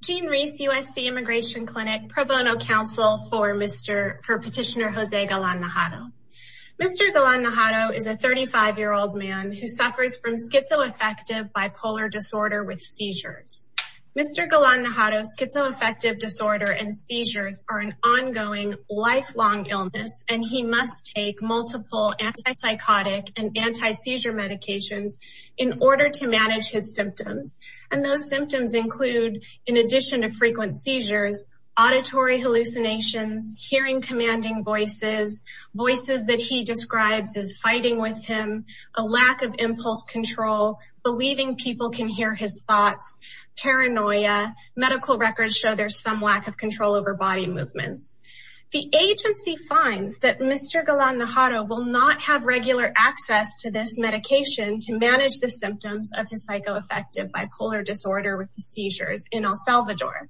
Gene Reese, USC Immigration Clinic, pro bono counsel for Petitioner Jose Galan-Najarro. Mr. Galan-Najarro is a 35-year-old man who suffers from schizoaffective bipolar disorder with seizures. Mr. Galan-Najarro's schizoaffective disorder and seizures are an ongoing lifelong illness, and he must take multiple anti-psychotic and anti-seizure medications in order to manage his symptoms. And those symptoms include, in addition to frequent seizures, auditory hallucinations, hearing commanding voices, voices that he describes as fighting with him, a lack of impulse control, believing people can hear his thoughts, paranoia, medical records show there's some lack of control over body movements. The agency finds that Mr. Galan-Najarro will not have regular access to this medication to manage the symptoms of his psychoaffective bipolar disorder with the seizures in El Salvador.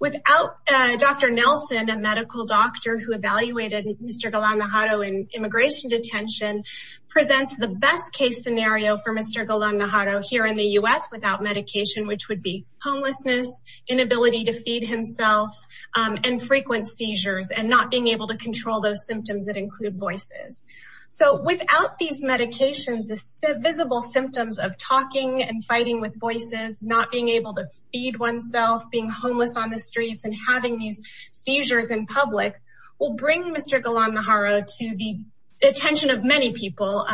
Without Dr. Nelson, a medical doctor who evaluated Mr. Galan-Najarro in immigration detention, presents the best case scenario for Mr. Galan-Najarro here in the US without medication, which would be homelessness, inability to feed himself, and frequent seizures, and not being able to control those symptoms that include voices. So without these medications, the visible symptoms of talking and fighting with voices, not being able to feed oneself, being homeless on the streets, and having these seizures in public will bring Mr. Galan-Najarro to the attention of many people,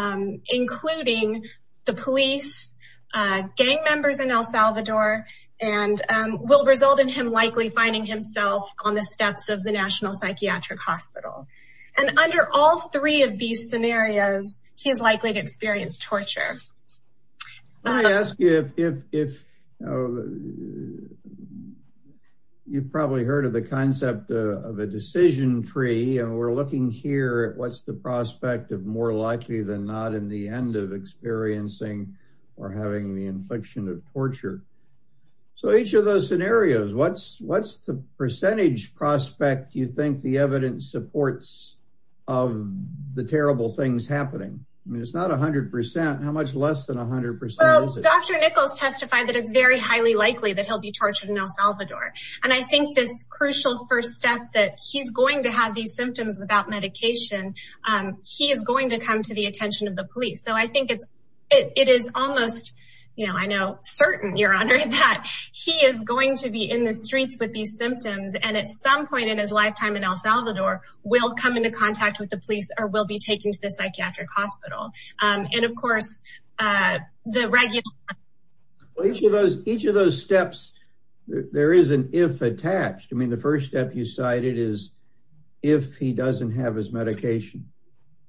including the police, gang members in El Salvador, and will result in him likely finding himself on the steps of the National Psychiatric Hospital. And under all three of these scenarios, he's likely to experience torture. Let me ask you if, you've probably heard of the concept of a decision tree, and we're looking here at what's the prospect of more likely than not in the end of experiencing or having the infliction of torture. So each of those scenarios, what's the percentage prospect you think the evidence supports of the terrible things happening? I mean, it's not 100%. How much less than 100% is it? Well, Dr. Nichols testified that it's very highly likely that he'll be tortured in El Salvador. And I think this crucial first step that he's going to have these symptoms without medication, he is going to come to the attention of the police. So I think it is almost, you know, I know certain, Your Honor, that he is going to be in the streets with these symptoms. And at some point in his lifetime in El Salvador, we'll come into contact with the police or we'll be taken to the psychiatric hospital. And of course, the regular- Each of those steps, there is an if attached. I mean, the first step you cited is if he doesn't have his medication.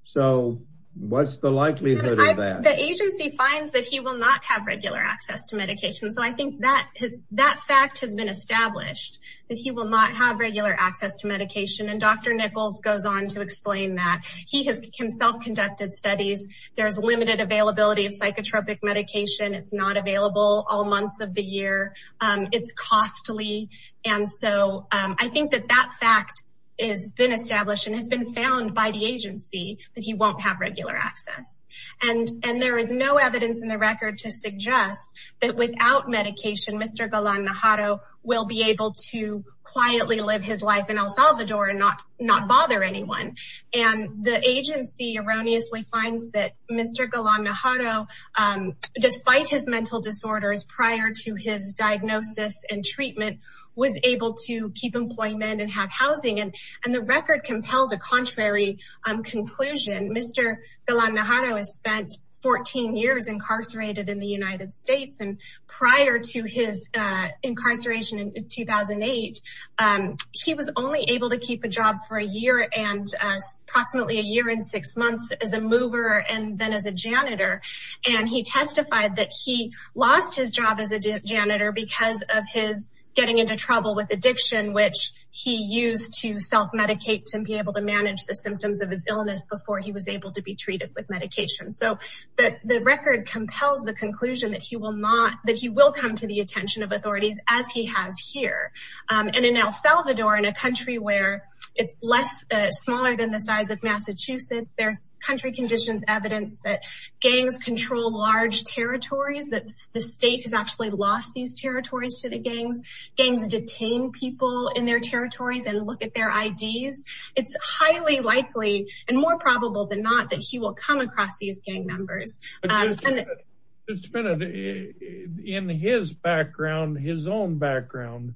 So what's the likelihood of that? The agency finds that he will not have regular access to medication. So I think that fact has been established, that he will not have regular access to medication. And Dr. Nichols goes on to explain that. He has self-conducted studies. There's limited availability of psychotropic medication. It's not available all months of the year. It's costly. And so I think that that fact has been established and has been found by the agency that he won't have regular access. And there is no evidence in the record to suggest that without medication, Mr. Galan-Najado will be able to quietly live his life in El Salvador and not bother anyone. And the agency erroneously finds that Mr. Galan-Najado, despite his mental disorders prior to his diagnosis and treatment, was able to keep employment and have housing. And the record compels a contrary conclusion. Mr. Galan-Najado has spent 14 years incarcerated in the United States. And prior to his incarceration in 2008, he was only able to keep a job for a year and approximately a year and six months as a mover and then as a janitor. And he testified that he lost his job as a janitor because of his getting into trouble with addiction, which he used to self-medicate to be able to manage the symptoms of his illness before he was able to be treated with medication. So the record compels the conclusion that he will come to the attention of authorities as he has here. And in El Salvador, in a country where it's smaller than the size of Massachusetts, there's country conditions evidence that gangs control large territories, that the state has actually lost these territories to the gangs. Gangs detain people in their territories and look at their IDs. It's highly likely and more probable than not that he will come across these gang members. Just a minute, in his background, his own background,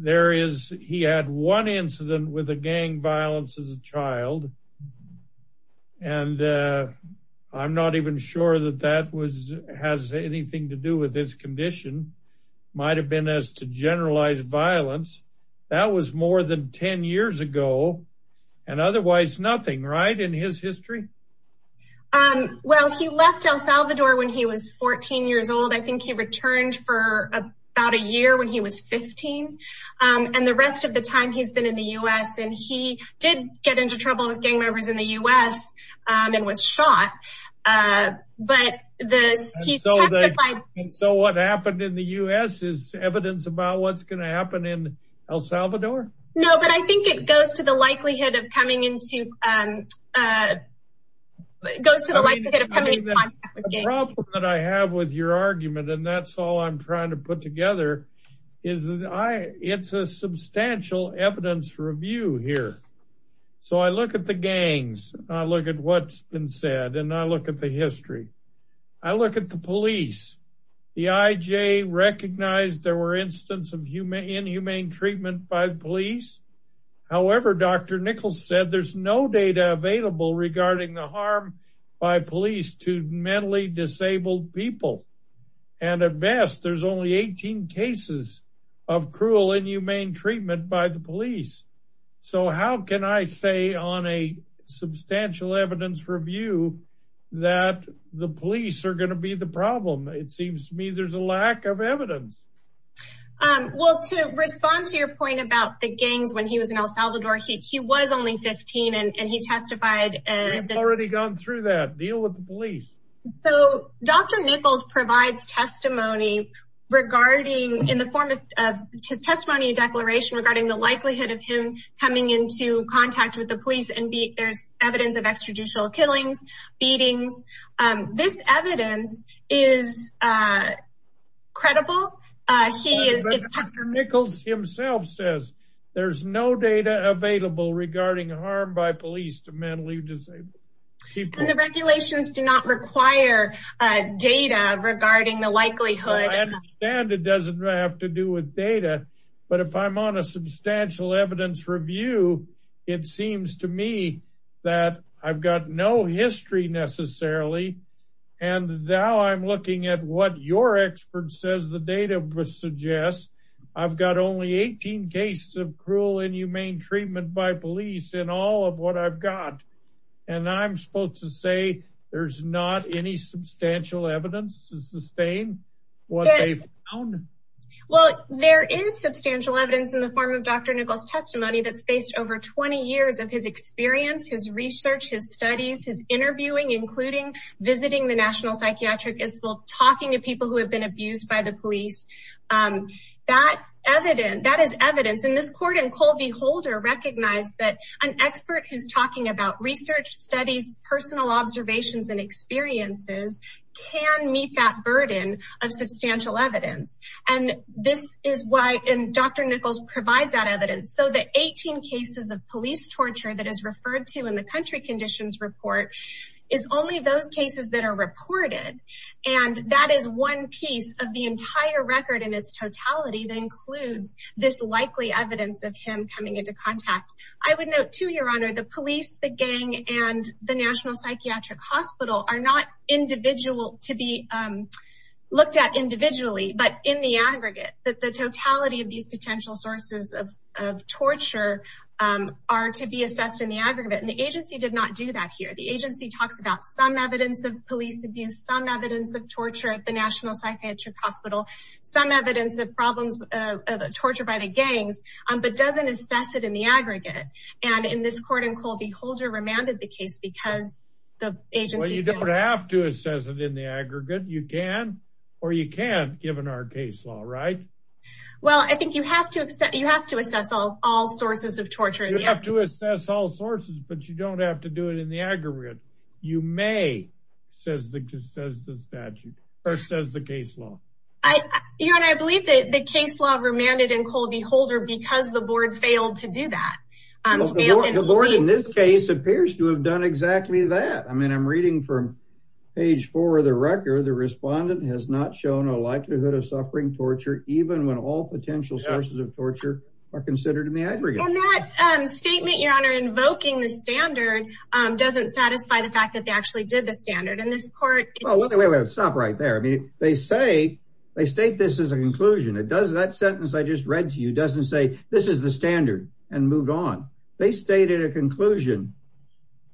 he had one incident with a gang violence as a child, and I'm not even sure that that has anything to do with his condition. Might've been as to generalized violence. That was more than 10 years ago and otherwise nothing, right, in his history? Well, he left El Salvador when he was 14 years old. I think he returned for about a year when he was 15. And the rest of the time he's been in the US and he did get into trouble with gang members in the US and was shot, but he testified- And so what happened in the US is evidence about what's gonna happen in El Salvador? No, but I think it goes to the likelihood of coming into, goes to the likelihood of coming in contact with gangs. The problem that I have with your argument, and that's all I'm trying to put together, is it's a substantial evidence review here. So I look at the gangs, I look at what's been said, and I look at the history. I look at the police. The IJ recognized there were incidents of inhumane treatment by the police. However, Dr. Nichols said there's no data available regarding the harm by police to mentally disabled people. And at best, there's only 18 cases of cruel inhumane treatment by the police. So how can I say on a substantial evidence review that the police are gonna be the problem? It seems to me there's a lack of evidence. Well, to respond to your point about the gangs when he was in El Salvador, he was only 15 and he testified. We've already gone through that, deal with the police. So Dr. Nichols provides testimony regarding, in the form of testimony declaration regarding the likelihood of him coming into contact with the police and there's evidence of extrajudicial killings, beatings. This evidence is credible. He is- Dr. Nichols himself says there's no data available regarding harm by police to mentally disabled people. And the regulations do not require data regarding the likelihood- Well, I understand it doesn't have to do with data, but if I'm on a substantial evidence review, it seems to me that I've got no history necessarily. And now I'm looking at what your expert says the data would suggest. I've got only 18 cases of cruel inhumane treatment by police in all of what I've got. And I'm supposed to say there's not any substantial evidence to sustain what they found? in the form of Dr. Nichols' testimony that's based over 20 years of his experience, his research, his studies, his interviewing, including visiting the National Psychiatric Institute, talking to people who have been abused by the police. That is evidence. And this court and Colby Holder recognized that an expert who's talking about research studies, personal observations and experiences can meet that burden of substantial evidence. And this is why, and Dr. Nichols provides that evidence. So the 18 cases of police torture that is referred to in the country conditions report is only those cases that are reported. And that is one piece of the entire record in its totality that includes this likely evidence of him coming into contact. I would note too, your honor, the police, the gang and the National Psychiatric Hospital are not individual to be looked at individually, but in the aggregate that the totality of these potential sources of torture are to be assessed in the aggregate. And the agency did not do that here. The agency talks about some evidence of police abuse, some evidence of torture at the National Psychiatric Hospital, some evidence of problems of torture by the gangs, but doesn't assess it in the aggregate. And in this court and Colby Holder remanded the case because the agency- Well, you don't have to assess it in the aggregate. You can, or you can't given our case law, right? Well, I think you have to assess all sources of torture. You have to assess all sources, but you don't have to do it in the aggregate. You may, says the statute, or says the case law. Your honor, I believe that the case law remanded in Colby Holder because the board failed to do that. The board in this case appears to have done exactly that. I mean, I'm reading from page four of the record. The respondent has not shown a likelihood of suffering torture, even when all potential sources of torture are considered in the aggregate. And that statement, your honor, invoking the standard doesn't satisfy the fact that they actually did the standard and this court- Well, wait, wait, wait, stop right there. I mean, they say, they state this as a conclusion. It does, that sentence I just read to you, doesn't say this is the standard and moved on. They stated a conclusion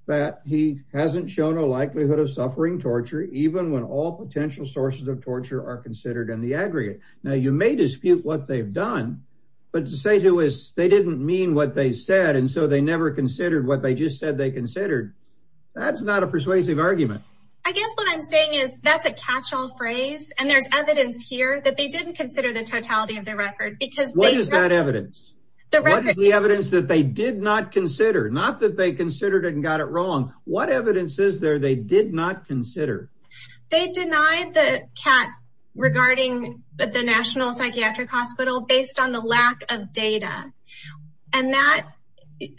that he hasn't shown a likelihood of suffering torture, even when all potential sources of torture are considered in the aggregate. Now you may dispute what they've done, but to say to us, they didn't mean what they said. And so they never considered what they just said they considered. That's not a persuasive argument. I guess what I'm saying is that's a catch-all phrase. And there's evidence here that they didn't consider the totality of the record because- What is that evidence? The record- What is the evidence that they did not consider? Not that they considered it and got it wrong. What evidence is there they did not consider? They denied the cat regarding the National Psychiatric Hospital based on the lack of data. And that,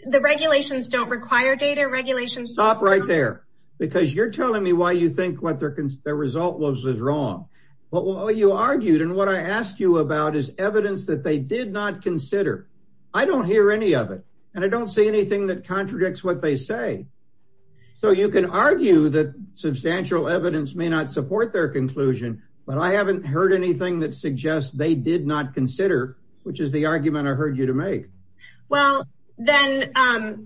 the regulations don't require data regulations- Stop right there, because you're telling me why you think what their result was was wrong. What you argued and what I asked you about is evidence that they did not consider. I don't hear any of it. And I don't see anything that contradicts what they say. So you can argue that substantial evidence may not support their conclusion, but I haven't heard anything that suggests they did not consider, which is the argument I heard you to make. Well, then,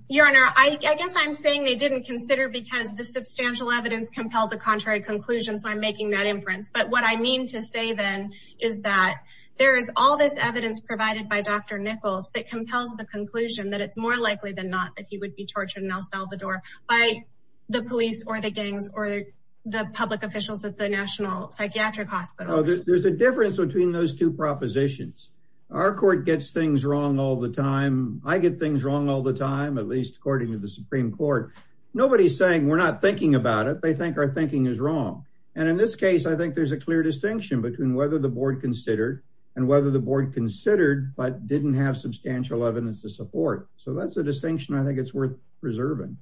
Your Honor, I guess I'm saying they didn't consider because the substantial evidence compels a contrary conclusion, so I'm making that inference. But what I mean to say then is that there is all this evidence provided by Dr. Nichols that compels the conclusion that it's more likely than not that he would be tortured in El Salvador by the police or the gangs or the public officials at the National Psychiatric Hospital. There's a difference between those two propositions. Our court gets things wrong all the time. I get things wrong all the time, at least according to the Supreme Court. Nobody's saying we're not thinking about it. They think our thinking is wrong. And in this case, I think there's a clear distinction between whether the board considered and whether the board considered but didn't have substantial evidence to support. So that's a distinction I think it's worth preserving.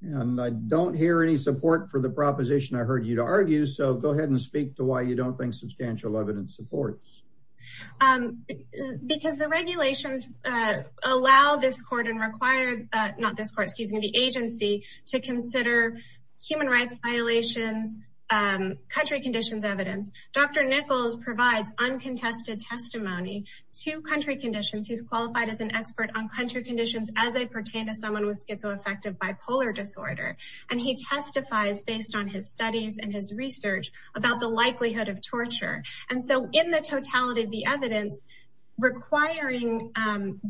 And I don't hear any support for the proposition I heard you to argue, so go ahead and speak to why you don't think substantial evidence supports. Because the regulations allow this court and require, not this court, excuse me, the agency to consider human rights violations, country conditions evidence. Dr. Nichols provides uncontested testimony to country conditions. He's qualified as an expert on country conditions as they pertain to someone with schizoaffective bipolar disorder. And he testifies based on his studies and his research about the likelihood of torture. And so in the totality of the evidence, requiring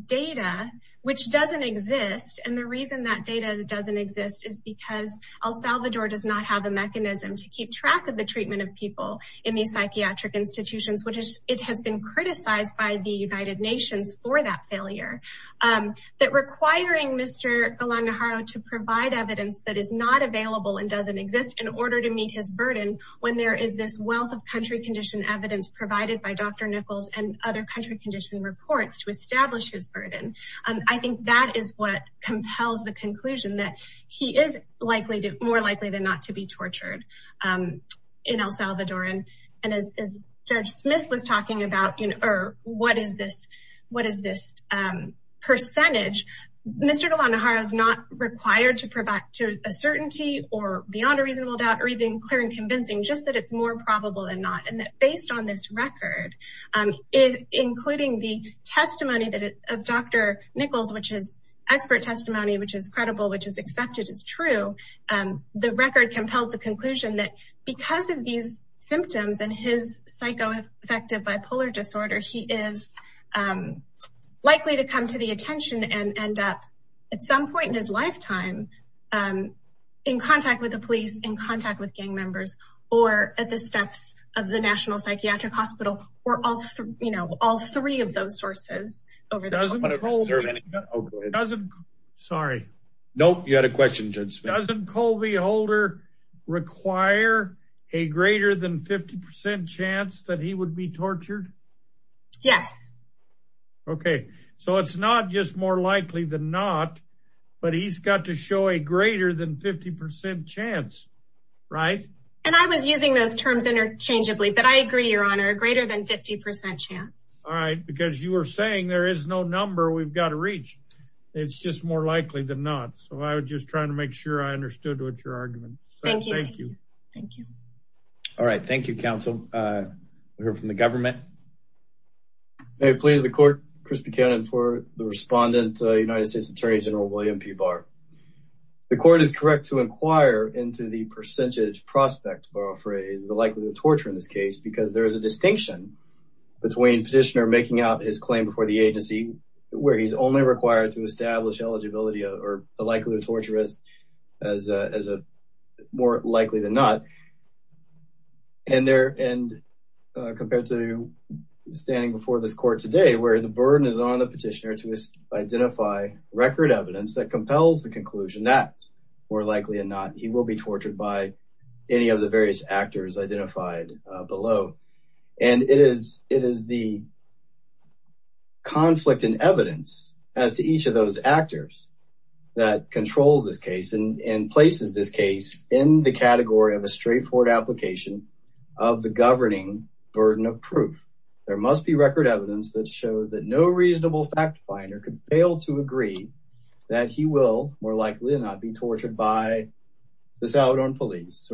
data, which doesn't exist. And the reason that data doesn't exist is because El Salvador does not have a mechanism to keep track of the treatment of people in these psychiatric institutions. It has been criticized by the United Nations for that failure. That requiring Mr. Galangaro to provide evidence that is not available and doesn't exist in order to meet his burden, when there is this wealth of country condition evidence provided by Dr. Nichols and other country condition reports to establish his burden. I think that is what compels the conclusion that he is more likely than not to be tortured in El Salvador. And as Judge Smith was talking about, or what is this percentage? Mr. Galangaro is not required to provide to a certainty or beyond a reasonable doubt, or even clear and convincing, just that it's more probable than not. And that based on this record, including the testimony of Dr. Nichols, which is expert testimony, which is credible, which is accepted as true, the record compels the conclusion that because of these symptoms and his psycho-affective bipolar disorder, he is likely to come to the attention and end up at some point in his lifetime in contact with the police, in contact with gang members, or at the steps of the National Psychiatric Hospital, or all three of those sources over the- Doesn't Colby- Doesn't Colby- Oh, go ahead. Sorry. Nope, you had a question, Judge Smith. Doesn't Colby Holder require a greater than 50% chance that he would be tortured? Yes. Okay, so it's not just more likely than not, but he's got to show a greater than 50% chance, right? And I was using those terms interchangeably, but I agree, Your Honor, a greater than 50% chance. All right, because you were saying there is no number we've got to reach. It's just more likely than not. So I was just trying to make sure I understood what your argument. So thank you. Thank you. All right, thank you, counsel. We'll hear from the government. May it please the court, Chris Buchanan, for the respondent, United States Attorney General William P. Barr. The court is correct to inquire into the percentage prospect, to borrow a phrase, the likelihood of torture in this case, because there is a distinction between petitioner making out his claim before the agency, where he's only required to establish eligibility or the likelihood of torture as a more likely than not. And compared to standing before this court today, where the burden is on the petitioner to identify record evidence that compels the conclusion that more likely than not, he will be tortured by any of the various actors identified below. And it is the conflict in evidence as to each of those actors that controls this case and places this case in the category of a straightforward application of the governing burden of proof. There must be record evidence that shows that no reasonable fact finder could fail to agree that he will, more likely than not, be tortured by the Salvadoran police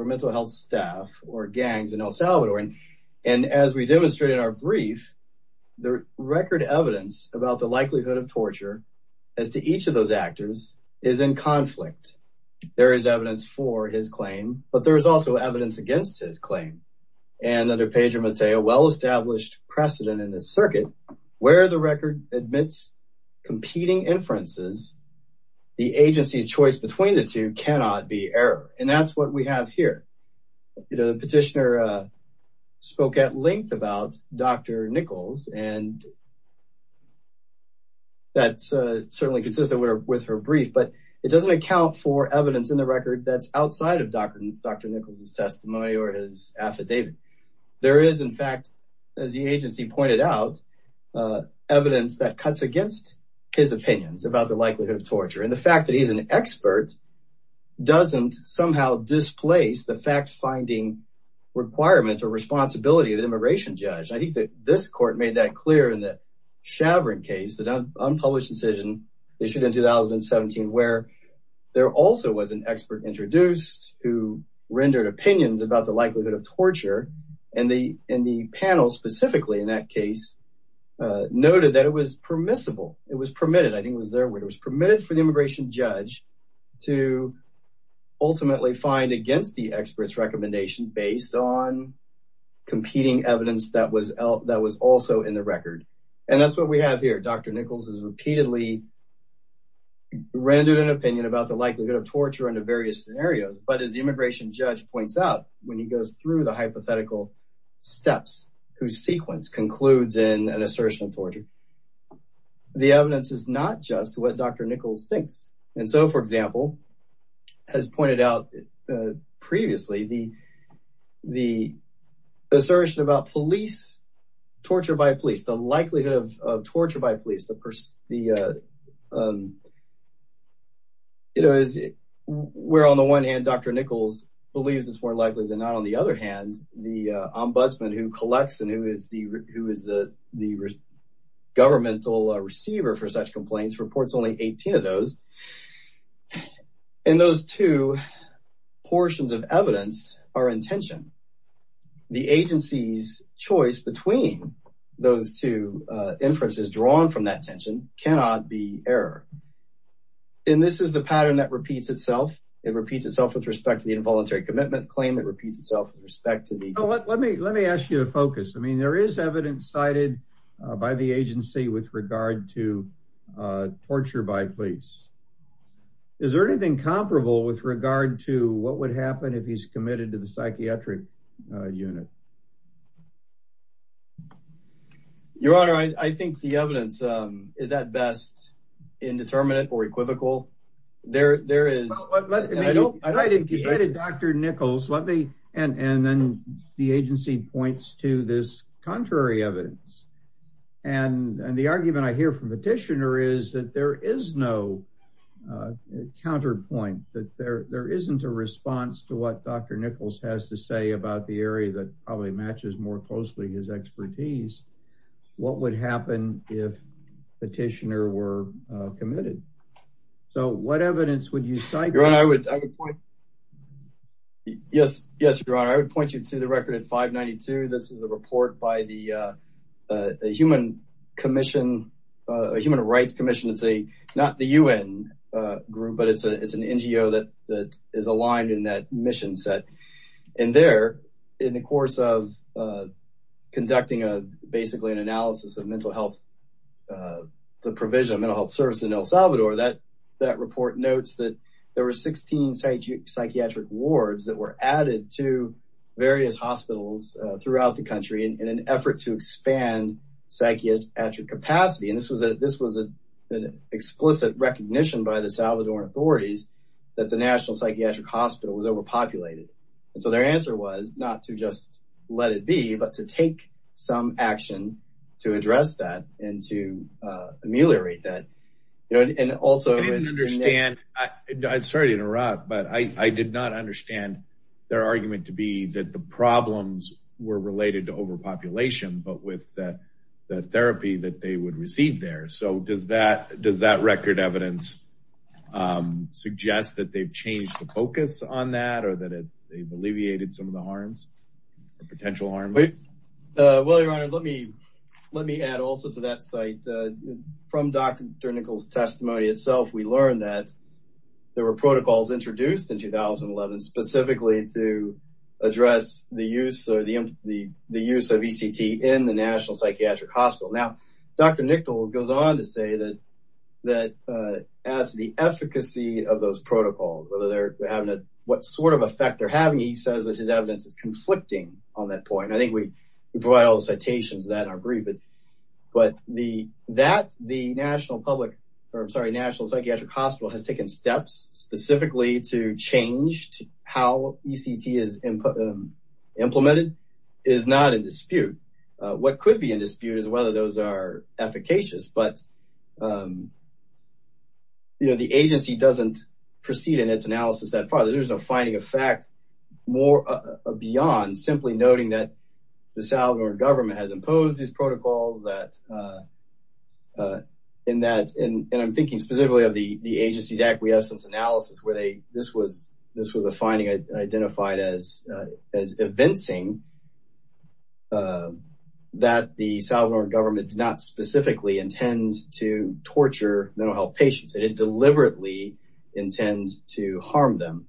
And as we demonstrated in our brief, the record evidence about the likelihood of torture as to each of those actors is in conflict. There is evidence for his claim, but there's also evidence against his claim. And under Pedro Mateo, well-established precedent in this circuit, where the record admits competing inferences, the agency's choice between the two cannot be error. And that's what we have here. The petitioner spoke at length about Dr. Nichols and that's certainly consistent with her brief, but it doesn't account for evidence in the record that's outside of Dr. Nichols' testimony or his affidavit. There is, in fact, as the agency pointed out, evidence that cuts against his opinions about the likelihood of torture. And the fact that he's an expert doesn't somehow displace the fact-finding requirements or responsibility of the immigration judge. I think that this court made that clear in the Chavarin case, the unpublished decision issued in 2017, where there also was an expert introduced who rendered opinions about the likelihood of torture. And the panel, specifically in that case, noted that it was permissible, it was permitted. I think it was their word. It was permitted for the immigration judge to ultimately find against the expert's recommendation based on competing evidence that was also in the record. And that's what we have here. Dr. Nichols has repeatedly rendered an opinion about the likelihood of torture under various scenarios. But as the immigration judge points out, when he goes through the hypothetical steps, whose sequence concludes in an assertion of torture, the evidence is not just what Dr. Nichols thinks. And so, for example, as pointed out previously, the assertion about police, torture by police, the likelihood of torture by police, where on the one hand, Dr. Nichols believes it's more likely than not. On the other hand, the ombudsman who collects and who is the governmental receiver for such complaints reports only 18 of those. And those two portions of evidence are in tension. The agency's choice between those two inferences drawn from that tension cannot be error. And this is the pattern that repeats itself. It repeats itself with respect to the involuntary commitment claim. It repeats itself with respect to the- Let me ask you to focus. I mean, there is evidence cited by the agency with regard to torture by police. Is there anything comparable with regard to what would happen if he's committed to the psychiatric unit? Your Honor, I think the evidence is at best indeterminate or equivocal. There is- I don't- I mean, you cited Dr. Nichols. Let me, and then the agency points to this contrary evidence. And the argument I hear from the petitioner is that there is no counterpoint, that there isn't a response to what Dr. Nichols has to say about the area that probably matches more closely his expertise. What would happen if the petitioner were committed? So what evidence would you cite? Your Honor, I would point- Yes, Your Honor, I would point you to the record at 592. This is a report by the Human Commission, a Human Rights Commission. It's not the UN group, but it's an NGO that is aligned in that mission set. And there, in the course of conducting basically an analysis of mental health, the provision of mental health service in El Salvador, that report notes that there were 16 psychiatric wards that were added to various hospitals throughout the country in an effort to expand psychiatric capacity. And this was an explicit recognition by the Salvadoran authorities that the National Psychiatric Hospital was overpopulated. And so their answer was not to just let it be, but to take some action to address that and to ameliorate that. You know, and also- I didn't understand, I'm sorry to interrupt, but I did not understand their argument to be that the problems were related to overpopulation, but with the therapy that they would receive there. So does that record evidence suggest that they've changed the focus on that or that they've alleviated some of the harms, the potential harms? Well, Your Honor, let me add also to that site. From Dr. Nichols' testimony itself, we learned that there were protocols introduced in 2011 specifically to address the use of ECT in the National Psychiatric Hospital. Now, Dr. Nichols goes on to say that as the efficacy of those protocols, whether they're having a, what sort of effect they're having, he says that his evidence is conflicting on that point. I think we provide all the citations of that in our brief, but that the National Public, or I'm sorry, National Psychiatric Hospital has taken steps specifically to change how ECT is implemented is not in dispute. What could be in dispute is whether those are efficacious, but the agency doesn't proceed in its analysis that far. There's no finding of facts beyond simply noting that the Salvador government has imposed these protocols that in that, and I'm thinking specifically of the agency's acquiescence analysis where they, this was a finding identified as evincing that the Salvador government did not specifically intend to torture mental health patients. They didn't deliberately intend to harm them.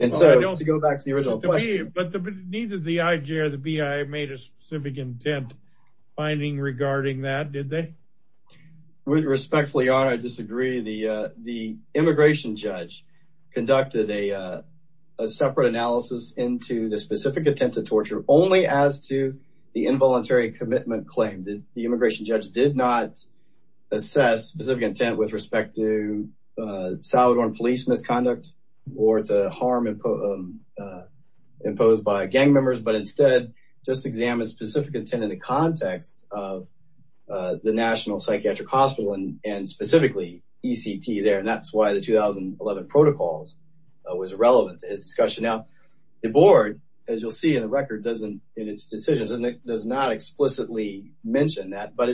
And so to go back to the original question. But neither the IJ or the BI made a specific intent finding regarding that, did they? With respectfully honor, I disagree. The immigration judge conducted a separate analysis into the specific intent to torture only as to the involuntary commitment claim. The immigration judge did not assess specific intent with respect to Salvadoran police misconduct or to harm imposed by gang members, but instead just examined specific intent in the context of the National Psychiatric Hospital and specifically ECT there. And that's why the 2011 protocols was irrelevant to his discussion. Now, the board, as you'll see in the record, doesn't in its decisions, and it does not explicitly mention that, but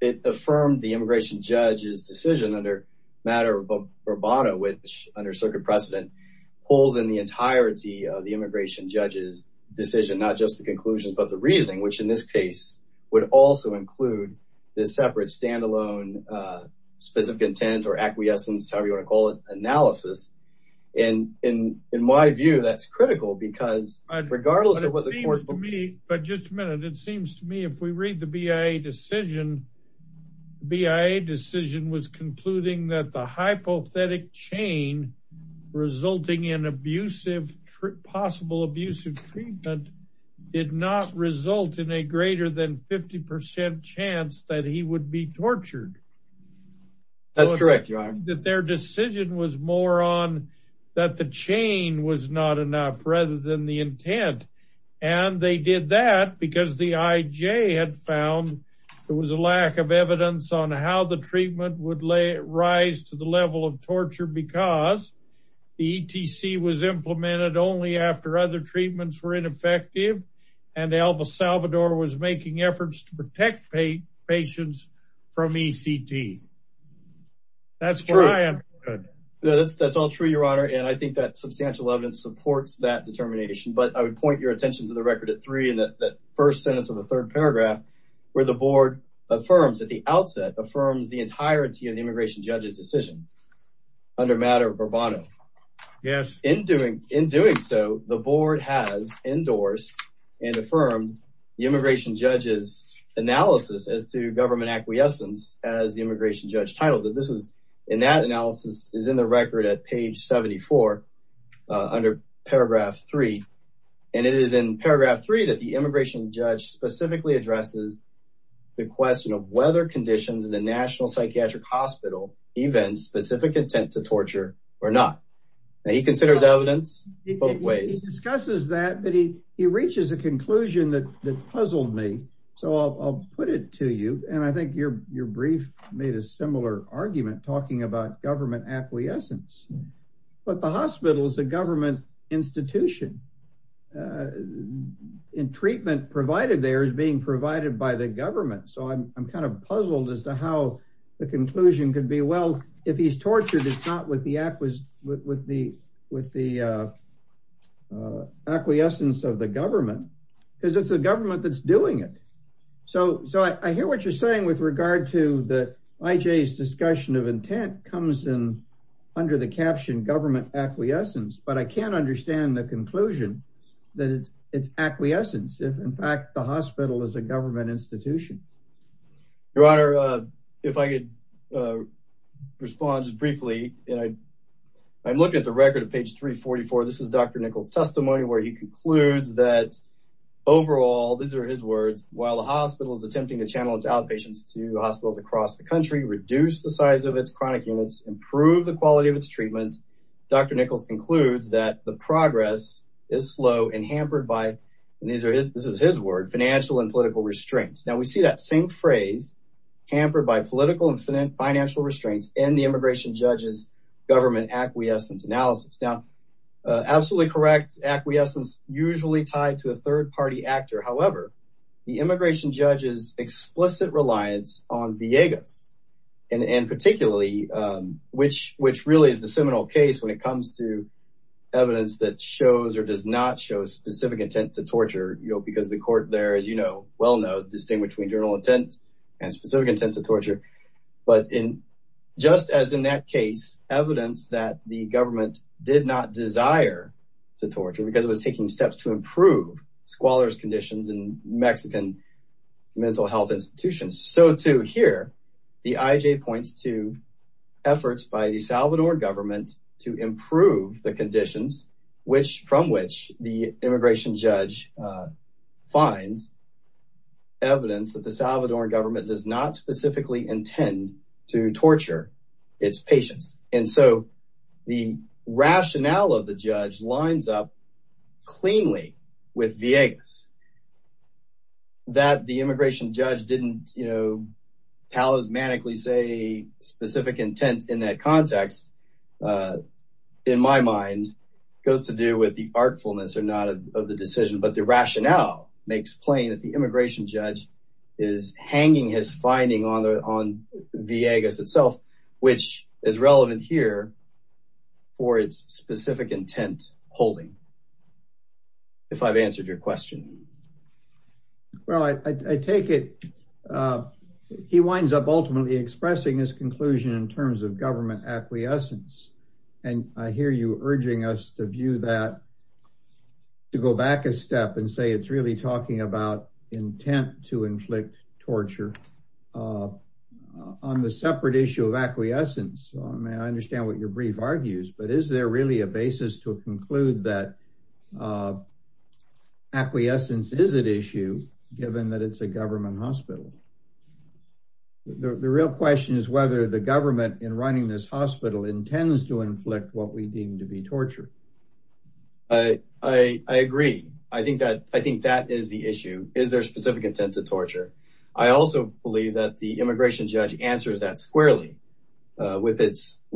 it affirmed the immigration judge's decision under matter of Roboto, which under circuit precedent holds in the entirety of the immigration judge's decision, not just the conclusions, but the reasoning, which in this case would also include this separate standalone specific intent or acquiescence, however you wanna call it, analysis. And in my view, that's critical because regardless of what the course will be. But just a minute, it seems to me, if we read the BIA decision, BIA decision was concluding that the hypothetic chain resulting in abusive, possible abusive treatment did not result in a greater than 50% chance that he would be tortured. That's correct, your honor. That their decision was more on that the chain was not enough rather than the intent. And they did that because the IJ had found there was a lack of evidence on how the treatment would rise to the level of torture because the ETC was implemented only after other treatments were ineffective and Elva Salvador was making efforts to protect patients from ECT. That's what I understood. That's all true, your honor. And I think that substantial evidence supports that determination, but I would point your attention to the record at three in that first sentence of the third paragraph where the board affirms at the outset, affirms the entirety of the immigration judge's decision under matter of Roboto. Yes. In doing so, the board has endorsed and affirmed the immigration judge's analysis as to government acquiescence as the immigration judge titles it. This is in that analysis is in the record at page 74 under paragraph three. And it is in paragraph three that the immigration judge specifically addresses the question of whether conditions in the National Psychiatric Hospital even specific intent to torture or not. And he considers evidence both ways. He discusses that, but he reaches a conclusion that puzzled me. So I'll put it to you. And I think your brief made a similar argument talking about government acquiescence, but the hospital is a government institution and treatment provided there So I'm kind of puzzled as to how the conclusion could be well, if he's tortured, it's not with the acquiescence of the government because it's the government that's doing it. So I hear what you're saying with regard to the IJ's discussion of intent comes in under the caption government acquiescence, but I can't understand the conclusion that it's acquiescence. If in fact the hospital is a government institution. Your honor, if I could respond just briefly, and I'm looking at the record of page 344, this is Dr. Nichols testimony where he concludes that overall, these are his words, while the hospital is attempting to channel its outpatients to hospitals across the country, reduce the size of its chronic units, improve the quality of its treatment. Dr. Nichols concludes that the progress is slow and hampered by, and these are his, this is his word, financial and political restraints. Now we see that same phrase, hampered by political and financial restraints and the immigration judge's government acquiescence analysis. Now, absolutely correct. Acquiescence usually tied to a third party actor. However, the immigration judge's explicit reliance on Viegas and particularly which really is the seminal case when it comes to evidence that shows or does not show specific intent to torture, because the court there, as you know, well-known, distinguished between general intent and specific intent to torture. But in just as in that case, evidence that the government did not desire to torture because it was taking steps to improve squalor's conditions in Mexican mental health institutions. So to hear the IJ points to efforts by the Salvador government to improve the conditions, which from which the immigration judge finds evidence that the Salvador government does not specifically intend to torture its patients. And so the rationale of the judge lines up cleanly with Viegas. That the immigration judge didn't, you know, palismanically say specific intent in that context, in my mind, goes to do with the artfulness or not of the decision, but the rationale makes plain that the immigration judge is hanging his finding on the Viegas itself, which is relevant here for its specific intent holding. If I've answered your question. Well, I take it, he winds up ultimately expressing his conclusion in terms of government acquiescence. And I hear you urging us to view that, to go back a step and say, it's really talking about intent to inflict torture on the separate issue of acquiescence. I mean, I understand what your brief argues, but is there really a basis to conclude that acquiescence is an issue given that it's a government hospital? The real question is whether the government in running this hospital intends to inflict what we deem to be torture. I agree. I think that is the issue. Is there a specific intent to torture? I also believe that the immigration judge answers that squarely with his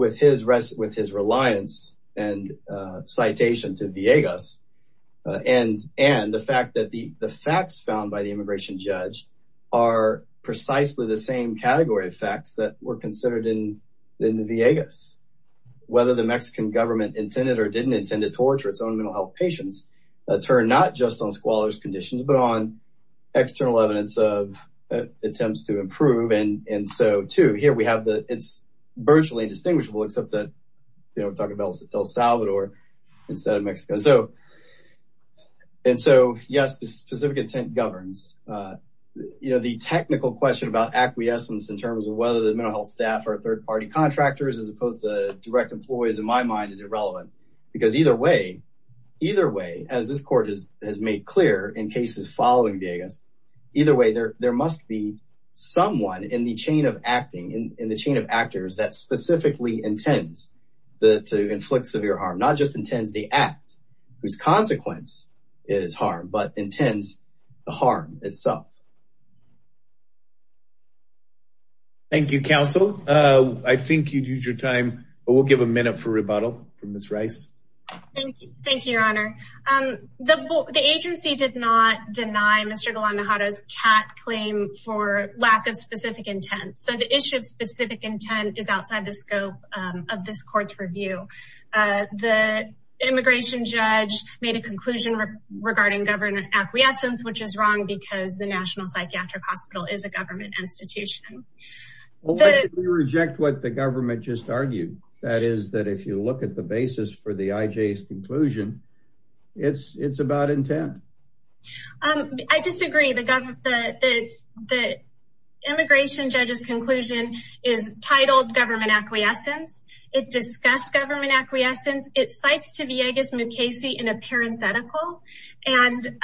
reliance and citation to the Viegas. And the fact that the facts found by the immigration judge are precisely the same category of facts that were considered in the Viegas. Whether the Mexican government intended or didn't intend to torture its own mental health patients that turn not just on squalor's conditions, but on external evidence of attempts to improve. And so too, here we have the, it's virtually indistinguishable, except that we're talking about El Salvador instead of Mexico. So, and so yes, specific intent governs. The technical question about acquiescence in terms of whether the mental health staff are third-party contractors as opposed to direct employees in my mind is irrelevant. Because either way, as this court has made clear in cases following Viegas, either way there must be someone in the chain of acting, in the chain of actors that specifically intends to inflict severe harm. Not just intends the act whose consequence is harm, but intends the harm itself. Thank you, counsel. I think you'd use your time, but we'll give a minute for rebuttal from Ms. Rice. Thank you. Thank you, your honor. The agency did not deny Mr. Galandejaro's cat claim for lack of specific intent. So the issue of specific intent is outside the scope of this court's review. The immigration judge made a conclusion regarding government acquiescence, which is wrong because the National Psychiatric Hospital is a government institution. We reject what the government just argued. That is that if you look at the basis for the IJ's conclusion, it's about intent. I disagree. The immigration judge's conclusion is titled government acquiescence. It discussed government acquiescence. It cites to Viegas-Nukesi in a parenthetical. And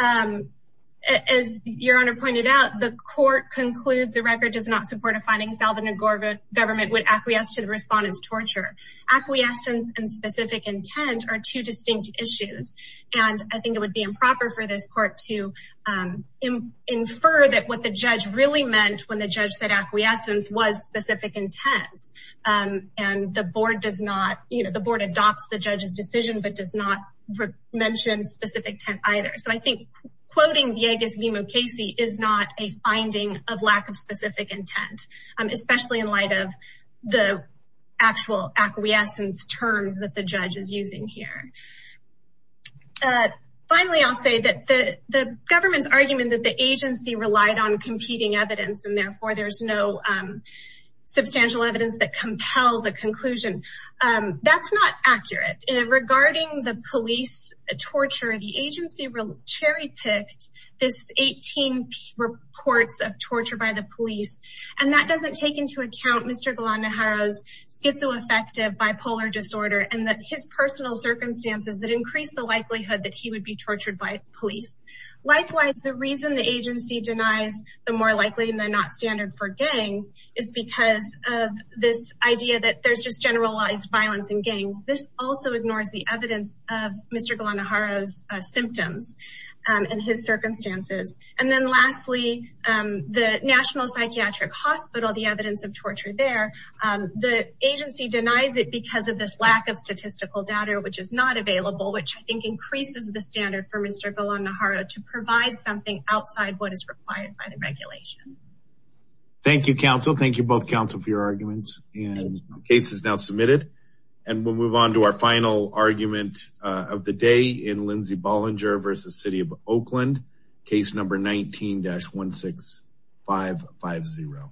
as your honor pointed out, the court concludes the record does not support a finding Salvadoran government would acquiesce to the respondent's torture. Acquiescence and specific intent are two distinct issues. And I think it would be improper for this court to infer that what the judge really meant when the judge said acquiescence was specific intent. And the board does not, the board adopts the judge's decision, but does not mention specific intent either. So I think quoting Viegas-Nukesi is not a finding of lack of specific intent, especially in light of the actual acquiescence terms that the judge is using here. Finally, I'll say that the government's argument that the agency relied on competing evidence and therefore there's no substantial evidence that compels a conclusion, that's not accurate. Regarding the police torture, the agency cherry-picked this 18 reports of torture by the police. And that doesn't take into account Mr. Galan-Najaro's schizoaffective bipolar disorder and that his personal circumstances that increased the likelihood that he would be tortured by police. Likewise, the reason the agency denies the more likely than not standard for gangs is because of this idea that there's just generalized violence in gangs. This also ignores the evidence of Mr. Galan-Najaro's symptoms and his circumstances. And then lastly, the National Psychiatric Hospital, the evidence of torture there, the agency denies it because of this lack of statistical data, which is not available, which I think increases the standard for Mr. Galan-Najaro to provide something outside what is required by the regulation. Thank you, counsel. Thank you both counsel for your arguments and cases now submitted. And we'll move on to our final argument of the day in Lindsey Bollinger versus City of Oakland, case number 19-16550.